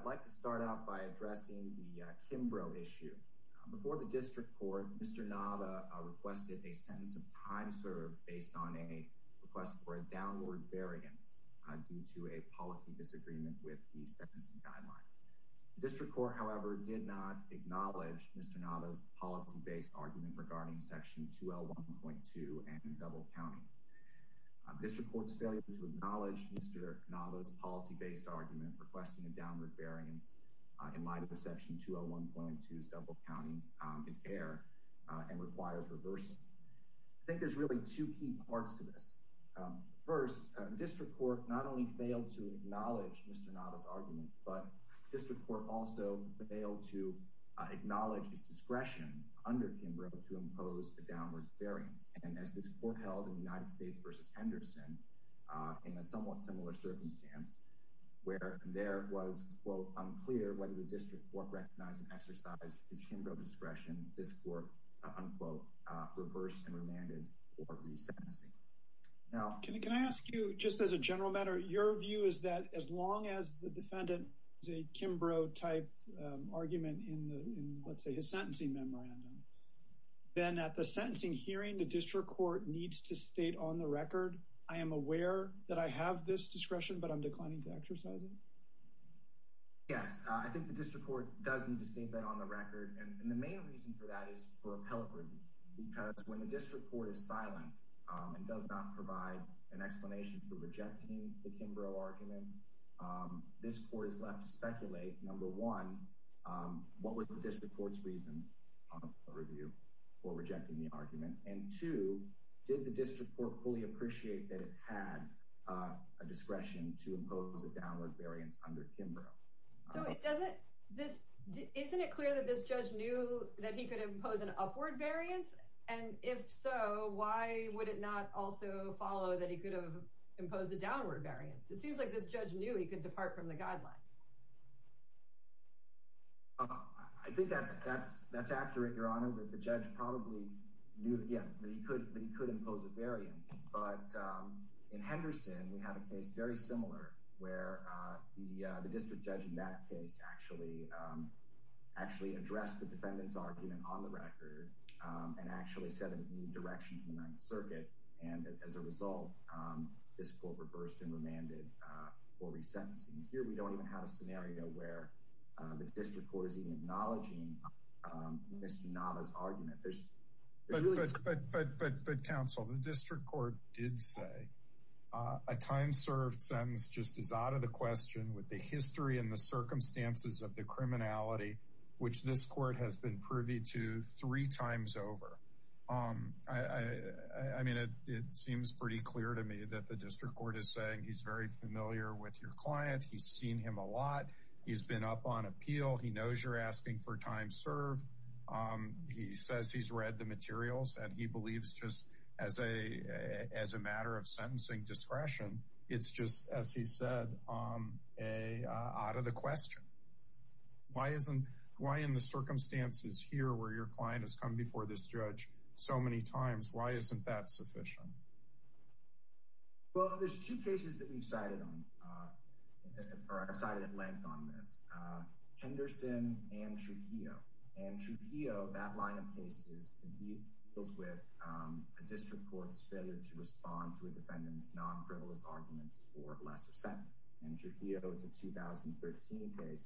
I'd like to start out by addressing the Kimbrough issue. Before the District Court, Mr. Nava requested a sentence of time served based on a request for a downward variance due to a policy disagreement with the sentencing guidelines. The District Court, however, did not acknowledge Mr. Nava's policy-based argument regarding Section 2L1.2 and double-counting. District Court's failure to acknowledge Mr. Nava's policy-based argument requesting a downward variance in light of Section 2L1.2's double-counting is air and requires reversing. I think there's really two key parts to this. First, District Court not only failed to acknowledge Mr. Nava's argument, but District Court also failed to acknowledge his discretion under Kimbrough to impose a downward variance. And as this court held in United States v. Henderson in a somewhat similar circumstance where there was, quote, unclear whether the District Court recognized and exercised his Kimbrough discretion, this court, unquote, reversed and remanded for resentencing. Can I ask you, just as a general matter, your view is that as long as the defendant is a Kimbrough-type argument in, let's say, his sentencing memorandum, then at the sentencing hearing, the District Court needs to state on the record, I am aware that I have this discretion, but I'm declining to exercise it? Yes, I think the District Court does need to state that on the record, and the main reason for that is for appellate review. Because when the District Court is silent and does not provide an explanation for rejecting the Kimbrough argument, this court is left to speculate, number one, what was the District Court's reason for rejecting the argument? And two, did the District Court fully appreciate that it had a discretion to impose a downward variance under Kimbrough? So isn't it clear that this judge knew that he could impose an upward variance? And if so, why would it not also follow that he could have imposed a downward variance? It seems like this judge knew he could depart from the guidelines. I think that's accurate, Your Honor, that the judge probably knew that he could impose a variance. But in Henderson, we have a case very similar, where the district judge in that case actually addressed the defendant's argument on the record, and actually said it needed direction from the Ninth Circuit. And as a result, this court reversed and remanded for resentencing. Here, we don't even have a scenario where the District Court is even acknowledging Mr. Nava's argument. But counsel, the District Court did say a time served sentence just is out of the question with the history and the circumstances of the criminality, which this court has been privy to three times over. I mean, it seems pretty clear to me that the District Court is saying he's very familiar with your client. He's seen him a lot. He's been up on appeal. He knows you're asking for time served. He says he's read the materials, and he believes just as a matter of sentencing discretion, it's just, as he said, out of the question. Why in the circumstances here, where your client has come before this judge so many times, why isn't that sufficient? Well, there's two cases that we've cited at length on this. Henderson and Trujillo. And Trujillo, that line of cases deals with a District Court's failure to respond to a defendant's non-frivolous arguments for lesser sentence. And Trujillo is a 2013 case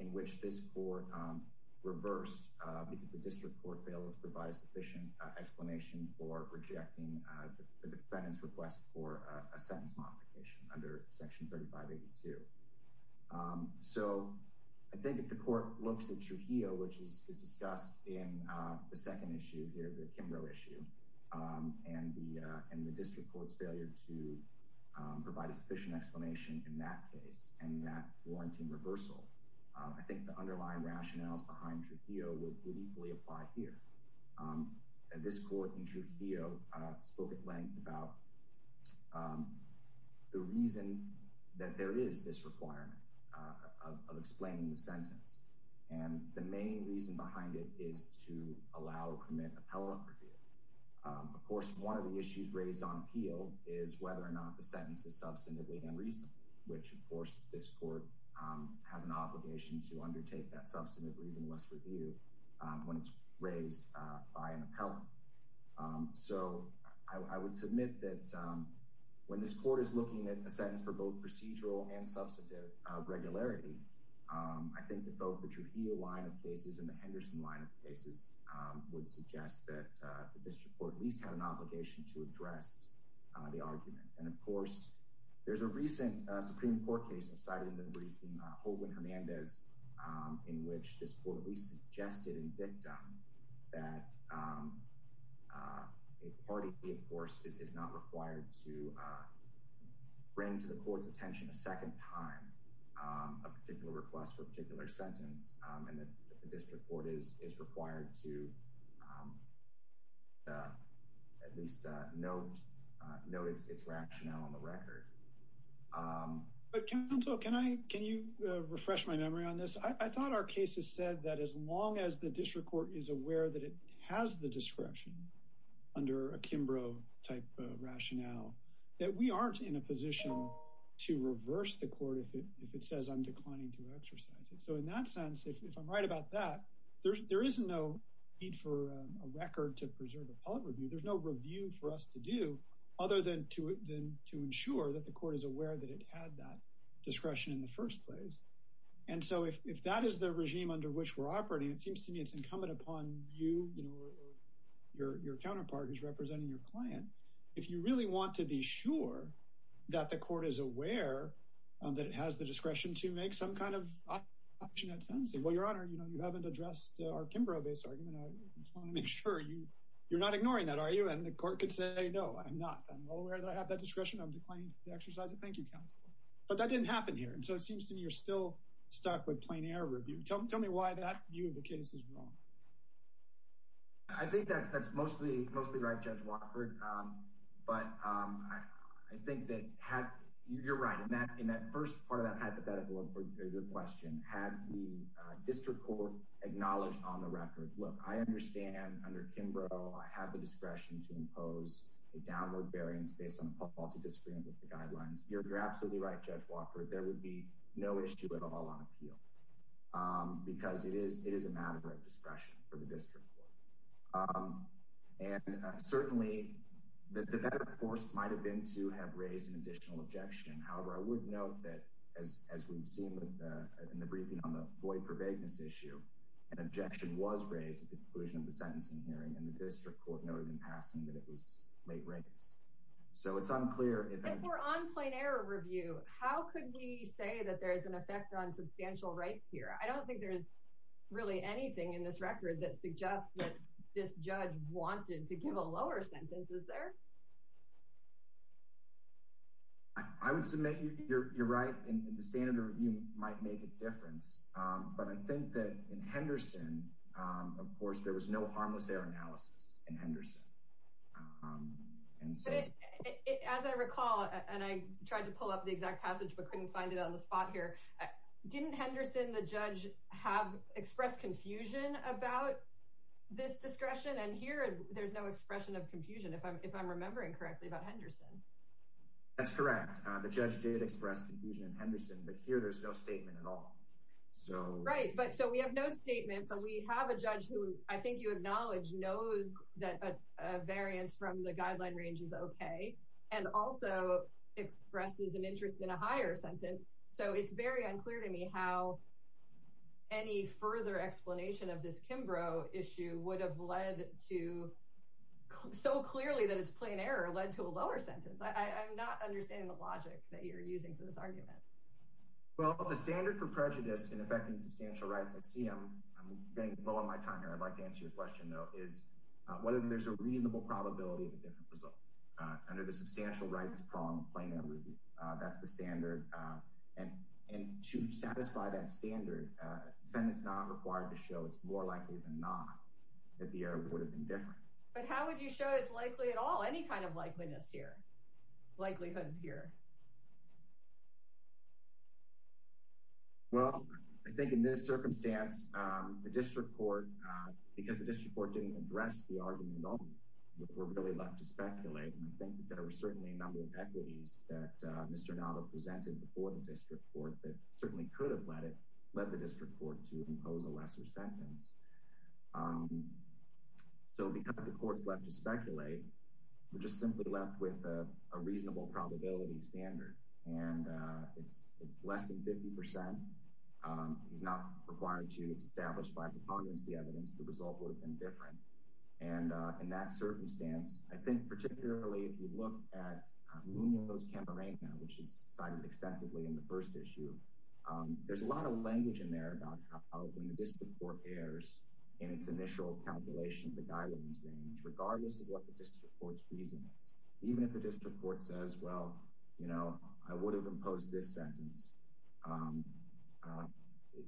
in which this court reversed because the District Court failed to provide sufficient explanation for rejecting the defendant's request for a sentence modification under Section 3582. So I think if the court looks at Trujillo, which is discussed in the second issue here, the Kimbrough issue, and the District Court's failure to provide a sufficient explanation in that case and that warranting reversal, I think the underlying rationales behind Trujillo would equally apply here. And this court in Trujillo spoke at length about the reason that there is this requirement of explaining the sentence. And the main reason behind it is to allow or permit appellate review. Of course, one of the issues raised on appeal is whether or not the sentence is substantively unreasonable, which, of course, this court has an obligation to undertake that substantive, reasonless review when it's raised by an appellant. So I would submit that when this court is looking at a sentence for both procedural and substantive regularity, I think that both the Trujillo line of cases and the Henderson line of cases would suggest that the District Court at least had an obligation to address the argument. And of course, there's a recent Supreme Court case cited in the briefing, Holguin-Hernandez, in which this court at least suggested in dictum that a party, of course, is not required to bring to the court's attention a second time a particular request for a particular rationale on the record. But counsel, can you refresh my memory on this? I thought our case has said that as long as the District Court is aware that it has the discretion under a Kimbrough-type rationale, that we aren't in a position to reverse the court if it says I'm declining to exercise it. So in that sense, if I'm right about that, there is no need for a record to preserve a public review. There's no review for us to do other than to ensure that the court is aware that it had that discretion in the first place. And so if that is the regime under which we're operating, it seems to me it's incumbent upon you, your counterpart who's representing your client, if you really want to be sure that the court is aware that it has the discretion to make some kind of option at sentencing. Well, Your Honor, you just want to make sure you're not ignoring that, are you? And the court could say, no, I'm not. I'm well aware that I have that discretion. I'm declining to exercise it. Thank you, counsel. But that didn't happen here. And so it seems to me you're still stuck with plain error review. Tell me why that view of the case is wrong. I think that's mostly right, Judge Watford. But I think that you're right. In that first part of that hypothetical question, had the District Court acknowledged on the record, look, I understand under Kimbrough, I have the discretion to impose a downward variance based on the policy disagreement with the guidelines. You're absolutely right, Judge Watford, there would be no issue at all on appeal because it is a matter of discretion for the District Court. And certainly the better course might have been to have raised an additional objection. However, I would note that as we've seen in the briefing on the void for vagueness issue, an objection was raised at the conclusion of the sentencing hearing, and the District Court noted in passing that it was late raised. So it's unclear if And if we're on plain error review, how could we say that there is an effect on substantial rights here? I don't think there is really anything in this record that suggests that this judge wanted to give a lower sentence. Is there? I would submit you're right in the standard review might make a difference. But I think that in Henderson, of course, there was no harmless error analysis in Henderson. And so as I recall, and I tried to pull up the exact passage, but couldn't find it on the spot here. Didn't Henderson the judge have expressed confusion about this discretion? And here there's no expression of confusion. If I'm remembering correctly about Henderson. That's correct. The judge did express confusion in Henderson, but here there's no statement at all. So right. But so we have no statement, but we have a judge who I think you acknowledge knows that a variance from the guideline range is OK and also expresses an interest in a higher sentence. So it's very unclear to me how any further explanation of this Kimbrough issue would have led to so clearly that it's plain error led to a lower sentence. I'm not understanding the logic that you're using for this argument. Well, the standard for prejudice in effecting substantial rights, I see I'm getting below my time here. I'd like to answer your question, though, is whether there's a reasonable probability of a different result under the substantial rights prong plain error review. That's the standard. And to satisfy that standard, then it's not required to show it's more likely than not that the error would have been different. But how would you show it's likely at all? Any kind of likeliness here? Likelihood here? Well, I think in this circumstance, the district court, because the district court didn't address the argument, we're really left to speculate. And I think certainly could have led it, led the district court to impose a lesser sentence. So because the court's left to speculate, we're just simply left with a reasonable probability standard. And it's less than 50 percent. It's not required to establish by preponderance the evidence the result would have been different. And in that circumstance, I think particularly if you look at Munoz-Camarena, which is cited extensively in the first issue, there's a lot of language in there about how when the district court errs in its initial calculation of the guidelines range, regardless of what the district court's reason is, even if the district court says, well, you know, I would have imposed this sentence,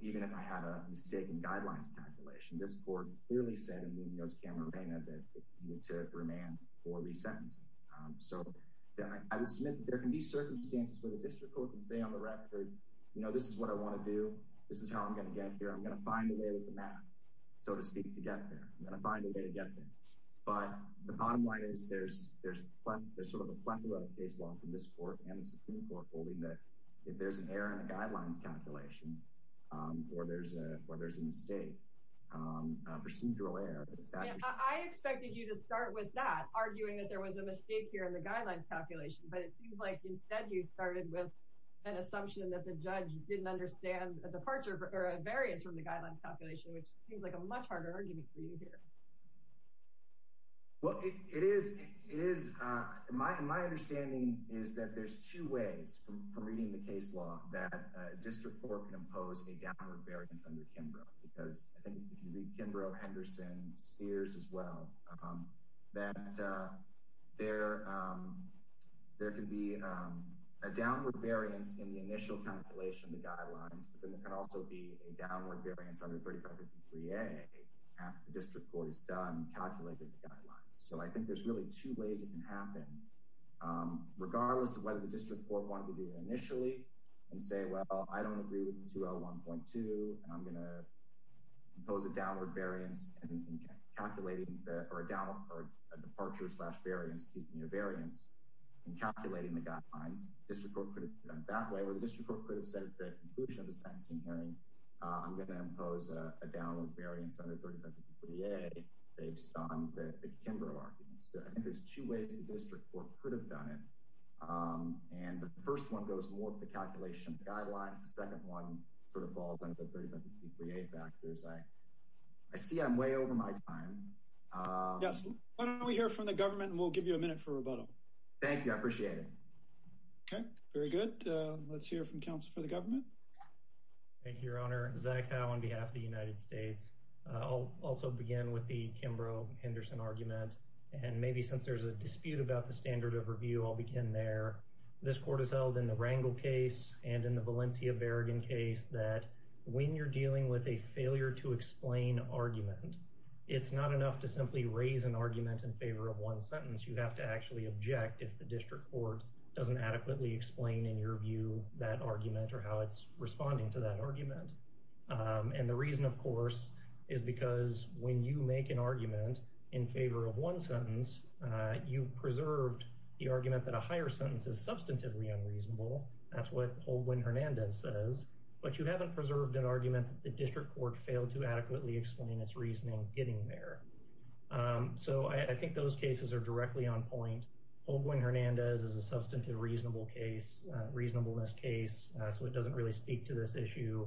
even if I had a mistaken guidelines calculation, this court clearly said in Munoz-Camarena that it needed to remand or re-sentence. So I would submit that there can be circumstances where the district court can say on the record, you know, this is what I want to do. This is how I'm going to get here. I'm going to find a way with the math, so to speak, to get there. I'm going to find a way to get there. But the bottom line is there's sort of a plethora of case law from this court and the Supreme Court holding that if there's an error in the guidelines calculation or there's a mistake, a procedural error. I expected you to start with that, arguing that there was a mistake here in the guidelines calculation, but it seems like instead you started with an assumption that the judge didn't understand a departure or a variance from the guidelines calculation, which seems like a much harder argument for you here. Well, it is. My understanding is that there's two ways from reading the case law that district court can impose a downward variance under Kimbrough, because I think if you read Kimbrough, Henderson, Spears as well, that there can be a downward variance in the initial calculation of the guidelines, but then there can also be a downward variance under 3553A after the district court has done calculating the guidelines. So I think there's really two ways it can happen, regardless of whether the district court wanted to do it initially and say, well, I don't agree with 2L1.2, and I'm going to impose a downward variance in calculating or a departure slash variance in calculating the guidelines. District court could have done it that way, or the district court could have said at the conclusion of the sentencing hearing, I'm going to impose a downward variance under 3553A based on the Kimbrough arguments. I think there's two ways the district court could have done it, and the first one goes more with the calculation of the guidelines. The second one sort of falls under the 3553A factors. I see I'm way over my time. Yes. Why don't we hear from the government, and we'll give you a minute for rebuttal. Thank you. I appreciate it. Okay. Very good. Let's hear from counsel for the government. Thank you, Your Honor. Zach Howe on behalf of the United States. I'll also begin with the Kimbrough-Henderson argument, and maybe since there's a dispute about the standard of review, I'll begin there. This court has held in the Rangel case and in the Valencia Berrigan case that when you're dealing with a failure-to-explain argument, it's not enough to simply raise an argument in favor of one sentence. You have to actually object if the district court doesn't adequately explain in your view that argument or how it's responding to that argument. And the reason, of course, is because when you make an argument in favor of one sentence, you've preserved the argument that a higher sentence is substantively unreasonable. That's what Holguin-Hernandez says. But you haven't preserved an argument that the district court failed to adequately explain its reasoning getting there. So I think those cases are directly on point. Holguin-Hernandez is a substantive reasonableness case, so it doesn't really speak to this issue.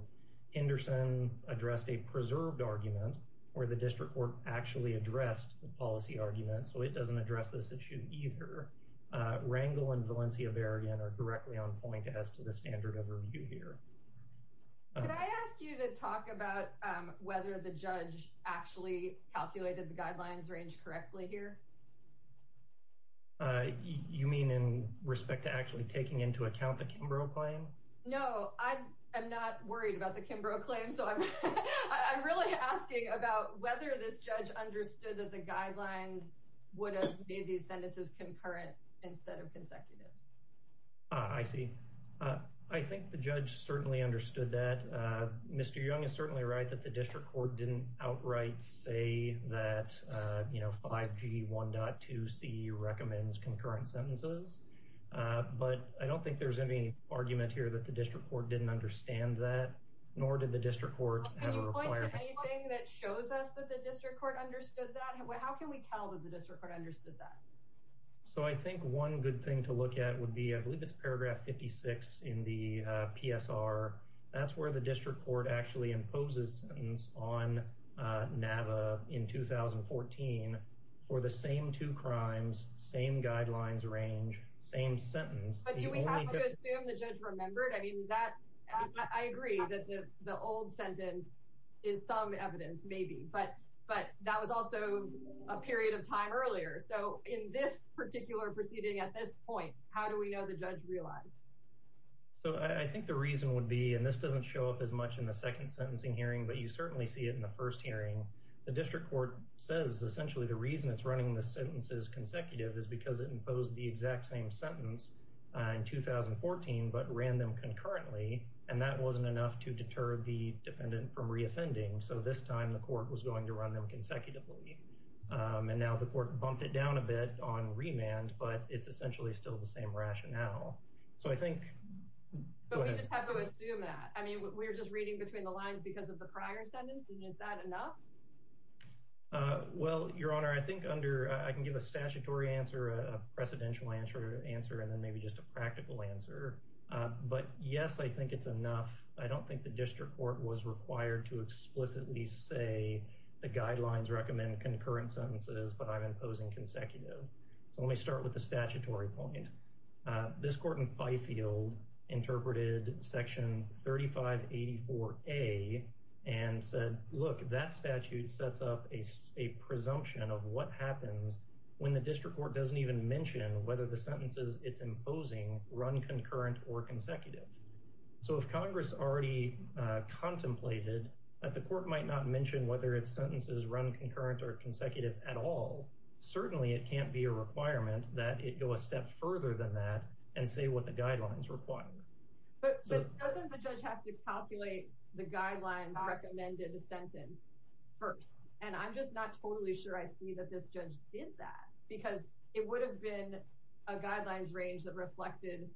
Henderson addressed a preserved argument where the district court actually addressed the policy argument, so it doesn't address this issue either. Rangel and Valencia Berrigan are directly on point as to the standard of review here. Can I ask you to talk about whether the judge actually calculated the guidelines range correctly here? You mean in respect to actually taking into account the Kimbrough claim? No, I'm not worried about the Kimbrough claim, so I'm really asking about whether this judge understood that the guidelines would have made these sentences concurrent instead of consecutive. I see. I think the judge certainly understood that. Mr. Young is certainly right that the district court didn't outright say that 5G 1.2c recommends concurrent sentences, but I don't think there's any argument here that the district court didn't understand that, nor did the district court have a requirement. Can you point to anything that shows us that the district court understood that? How can we tell that the district court understood that? So I think one good thing to look at would be, I believe it's paragraph 56 in the PSR. That's where the district court actually imposes a sentence on NAVA in 2014 for the same two crimes, same guidelines range, same sentence. But do we have to assume the judge remembered? I mean, I agree that the old sentence is some evidence maybe, but that was also a period of time earlier. So in this particular proceeding at this point, how do we know the judge realized? So I think the reason would be, and this doesn't show up as much in the second sentencing hearing, but you certainly see it in the first hearing. The district court says essentially the reason it's running the sentences consecutive is because it imposed the exact same sentence in 2014, but ran them concurrently. And that wasn't enough to deter the defendant from reoffending. So this time the court was going to run them consecutively. And now the court bumped it down a bit on remand, but it's essentially still the same rationale. So I think, but we just have to assume that. I mean, we're just reading between the lines because of the prior sentence. And is that enough? Well, Your Honor, I think under, I can give a statutory answer, a precedential answer answer, and then maybe just a practical answer. But yes, I think it's enough. I don't think the district court was required to explicitly say the guidelines recommend concurrent sentences, but I'm imposing consecutive. So let me start with the statutory point. This court in Fifield interpreted Section 3584A and said, look, that statute sets up a presumption of what happens when the district court doesn't even mention whether the sentences it's imposing run concurrent or consecutive. So if Congress already contemplated that the court might not mention whether its sentences run concurrent or consecutive at all, certainly it can't be a requirement that it go a step further than that and say what the guidelines require. But doesn't the judge have to calculate the guidelines recommended a sentence first? And I'm just not totally sure I see that this judge did that because it would have been a guidelines range that reflected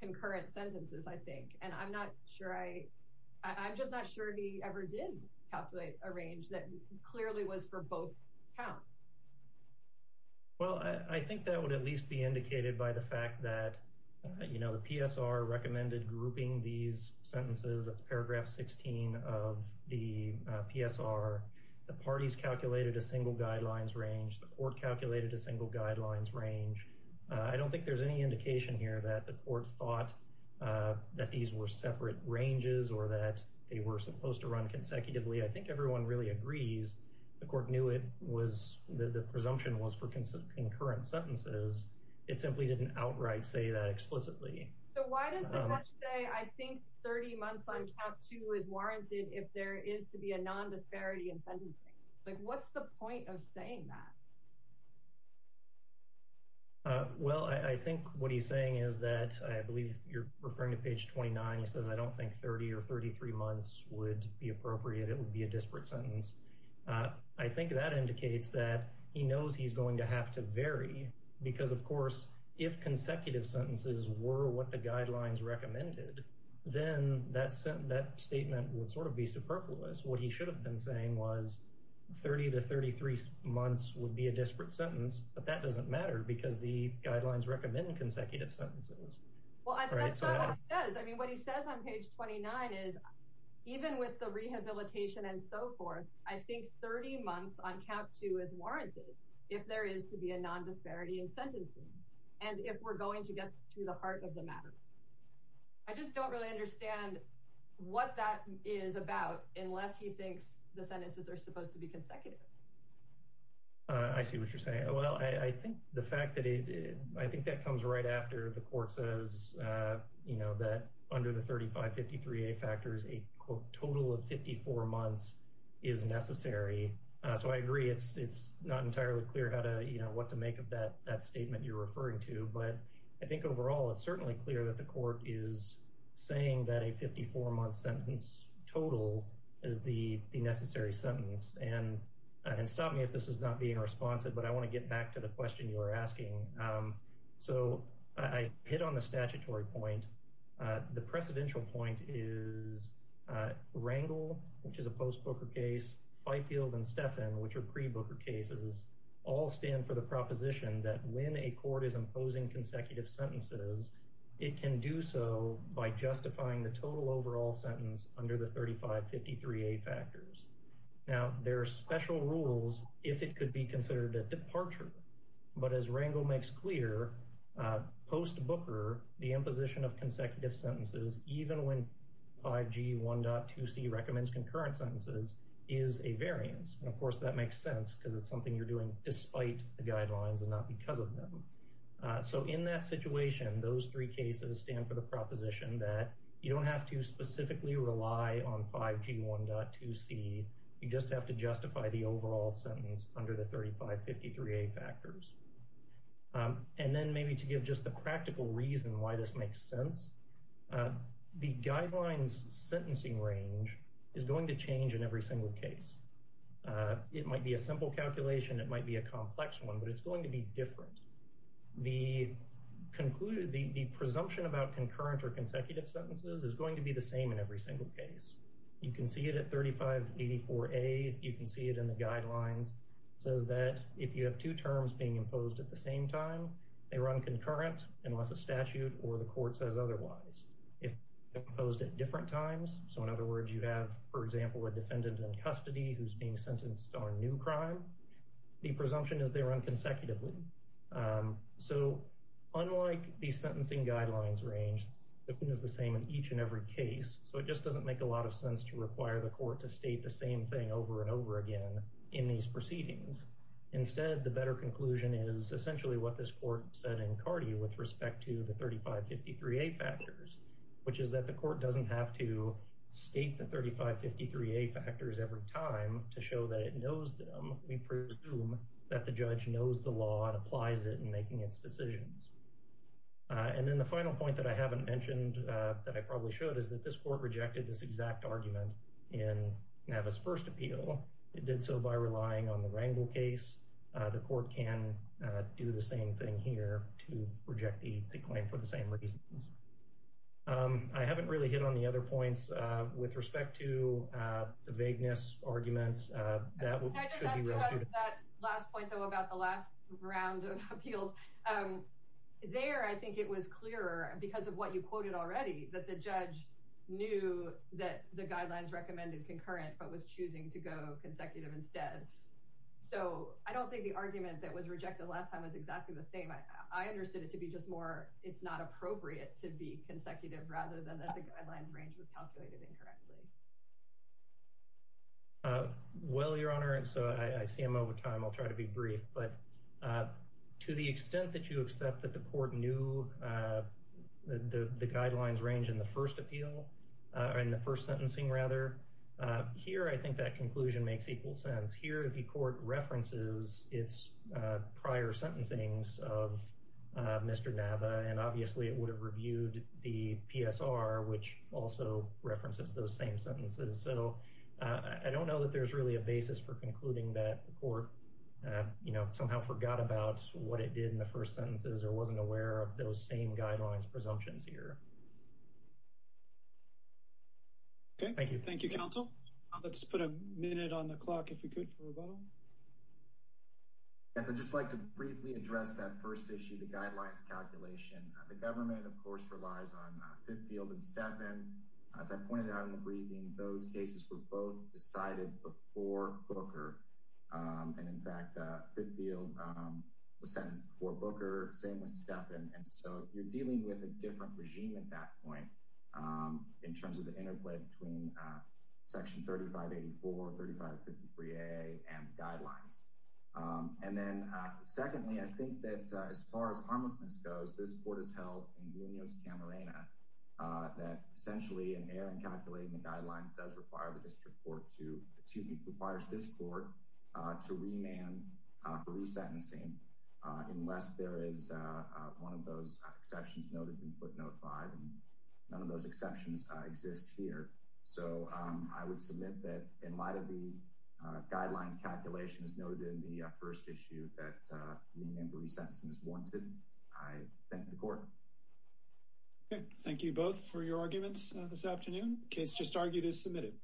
concurrent sentences, I think. And I'm not sure I, I'm a range that clearly was for both counts. Well, I think that would at least be indicated by the fact that, you know, the PSR recommended grouping these sentences. That's paragraph 16 of the PSR. The parties calculated a single guidelines range. The court calculated a single guidelines range. I don't think there's any indication here that the court thought that these were separate ranges or that they were supposed to run consecutively. I think everyone really agrees. The court knew it was, the presumption was for concurrent sentences. It simply didn't outright say that explicitly. So why does the judge say I think 30 months on Chapter 2 is warranted if there is to be a nondisparity in sentencing? Like what's the point of saying that? Well, I think what he's saying is that I believe you're referring to page 29. He says I don't think 30 or 33 months would be appropriate. It would be a disparate sentence. I think that indicates that he knows he's going to have to vary because of course if consecutive sentences were what the guidelines recommended, then that statement would sort of be superfluous. What he should have been saying was 30 to 33 months would be a disparate sentence, but that doesn't matter because the guidelines recommend consecutive sentences. Well, that's not what he says. I mean, what he says on page 29 is even with the rehabilitation and so forth, I think 30 months on Chapter 2 is warranted if there is to be a nondisparity in sentencing and if we're going to get to the heart of the matter. I just don't really understand what that is about unless he thinks the sentences are supposed to be consecutive. I see what you're saying. Well, I think the fact that I think that comes right after the court says that under the 3553A factors, a total of 54 months is necessary. So I agree it's not entirely clear what to make of that statement you're referring to, but I think overall it's certainly clear that the court is saying that a 54-month sentence total is the necessary sentence. And stop me if this is not being responsive, but I want to get back to the question you are asking. So I hit on the statutory point. The precedential point is Rangel, which is a post-Booker case, Fifield and Steffen, which are pre-Booker cases, all stand for the proposition that when a court is imposing consecutive sentences, it can do so by justifying the total overall sentence under the 3553A factors. Now, there are special rules if it could be considered a departure, but as Rangel makes clear, post-Booker, the imposition of consecutive sentences, even when 5G 1.2c recommends concurrent sentences, is a variance. And of course that makes sense because it's something you're doing despite the guidelines and not because of them. So in that situation, those three cases stand for the proposition that you don't have to specifically rely on 5G 1.2c, you just have to justify the overall sentence under the 3553A factors. And then maybe to give just the practical reason why this makes sense, the guidelines sentencing range is going to change in every single case. It might be a simple calculation, it might be a complex one, but it's going to be different. The presumption about 3554A, you can see it in the guidelines, says that if you have two terms being imposed at the same time, they run concurrent unless a statute or the court says otherwise. If imposed at different times, so in other words, you have, for example, a defendant in custody who's being sentenced on a new crime, the presumption is they run consecutively. So unlike the sentencing guidelines range, it is the same in each and every case, so it just doesn't make a lot of sense to require the court to state the same thing over and over again in these proceedings. Instead, the better conclusion is essentially what this court said in CARDI with respect to the 3553A factors, which is that the court doesn't have to state the 3553A factors every time to show that it knows them. We presume that the judge knows the law and applies it in making its decisions. And then the final point that I haven't mentioned that I probably should is that this court rejected this exact argument in Nava's first appeal. It did so by relying on the Rangel case. The court can do the same thing here to reject the claim for the same reasons. I haven't really hit on the other points with respect to the vagueness arguments. That would be real stupid. I just asked you about that last point, though, about the last round of appeals. There, I know you quoted already that the judge knew that the guidelines recommended concurrent but was choosing to go consecutive instead. So I don't think the argument that was rejected last time was exactly the same. I understood it to be just more it's not appropriate to be consecutive rather than that the guidelines range was calculated incorrectly. Well, Your Honor, and so I see I'm over time. I'll try to be brief. But to the extent that you accept that the court knew the guidelines range in the first appeal and the first sentencing rather. Here, I think that conclusion makes equal sense. Here, the court references its prior sentencings of Mr. Nava, and obviously it would have reviewed the PSR, which also references those same sentences. So I don't know that there's really a basis for concluding that the court, you know, somehow forgot about what it did in the first sentences or wasn't aware of those same guidelines presumptions here. Okay, thank you. Thank you, counsel. Let's put a minute on the clock if we could for rebuttal. Yes, I'd just like to briefly address that first issue, the guidelines calculation. The government, of course, relies on Fitfield and Stephan. As I pointed out in the briefing, those cases were both decided before Booker. And in fact, Fitfield was sentenced before Booker, same with Stephan. And so you're dealing with a different regime at that point in terms of the interplay between Section 3584, 3553A, and the guidelines. And then secondly, I think that as far as harmlessness goes, this court has held in Junios Camarena that essentially an error in calculating the guidelines does require the district court to, excuse me, requires this court to remand for resentencing unless there is one of those exceptions noted in footnote 5. None of those exceptions exist here. So I would submit that in light of the guidelines calculations noted in the first issue that remand for resentencing is wanted, I thank the court. Thank you both for your arguments this afternoon. Case just argued is submitted.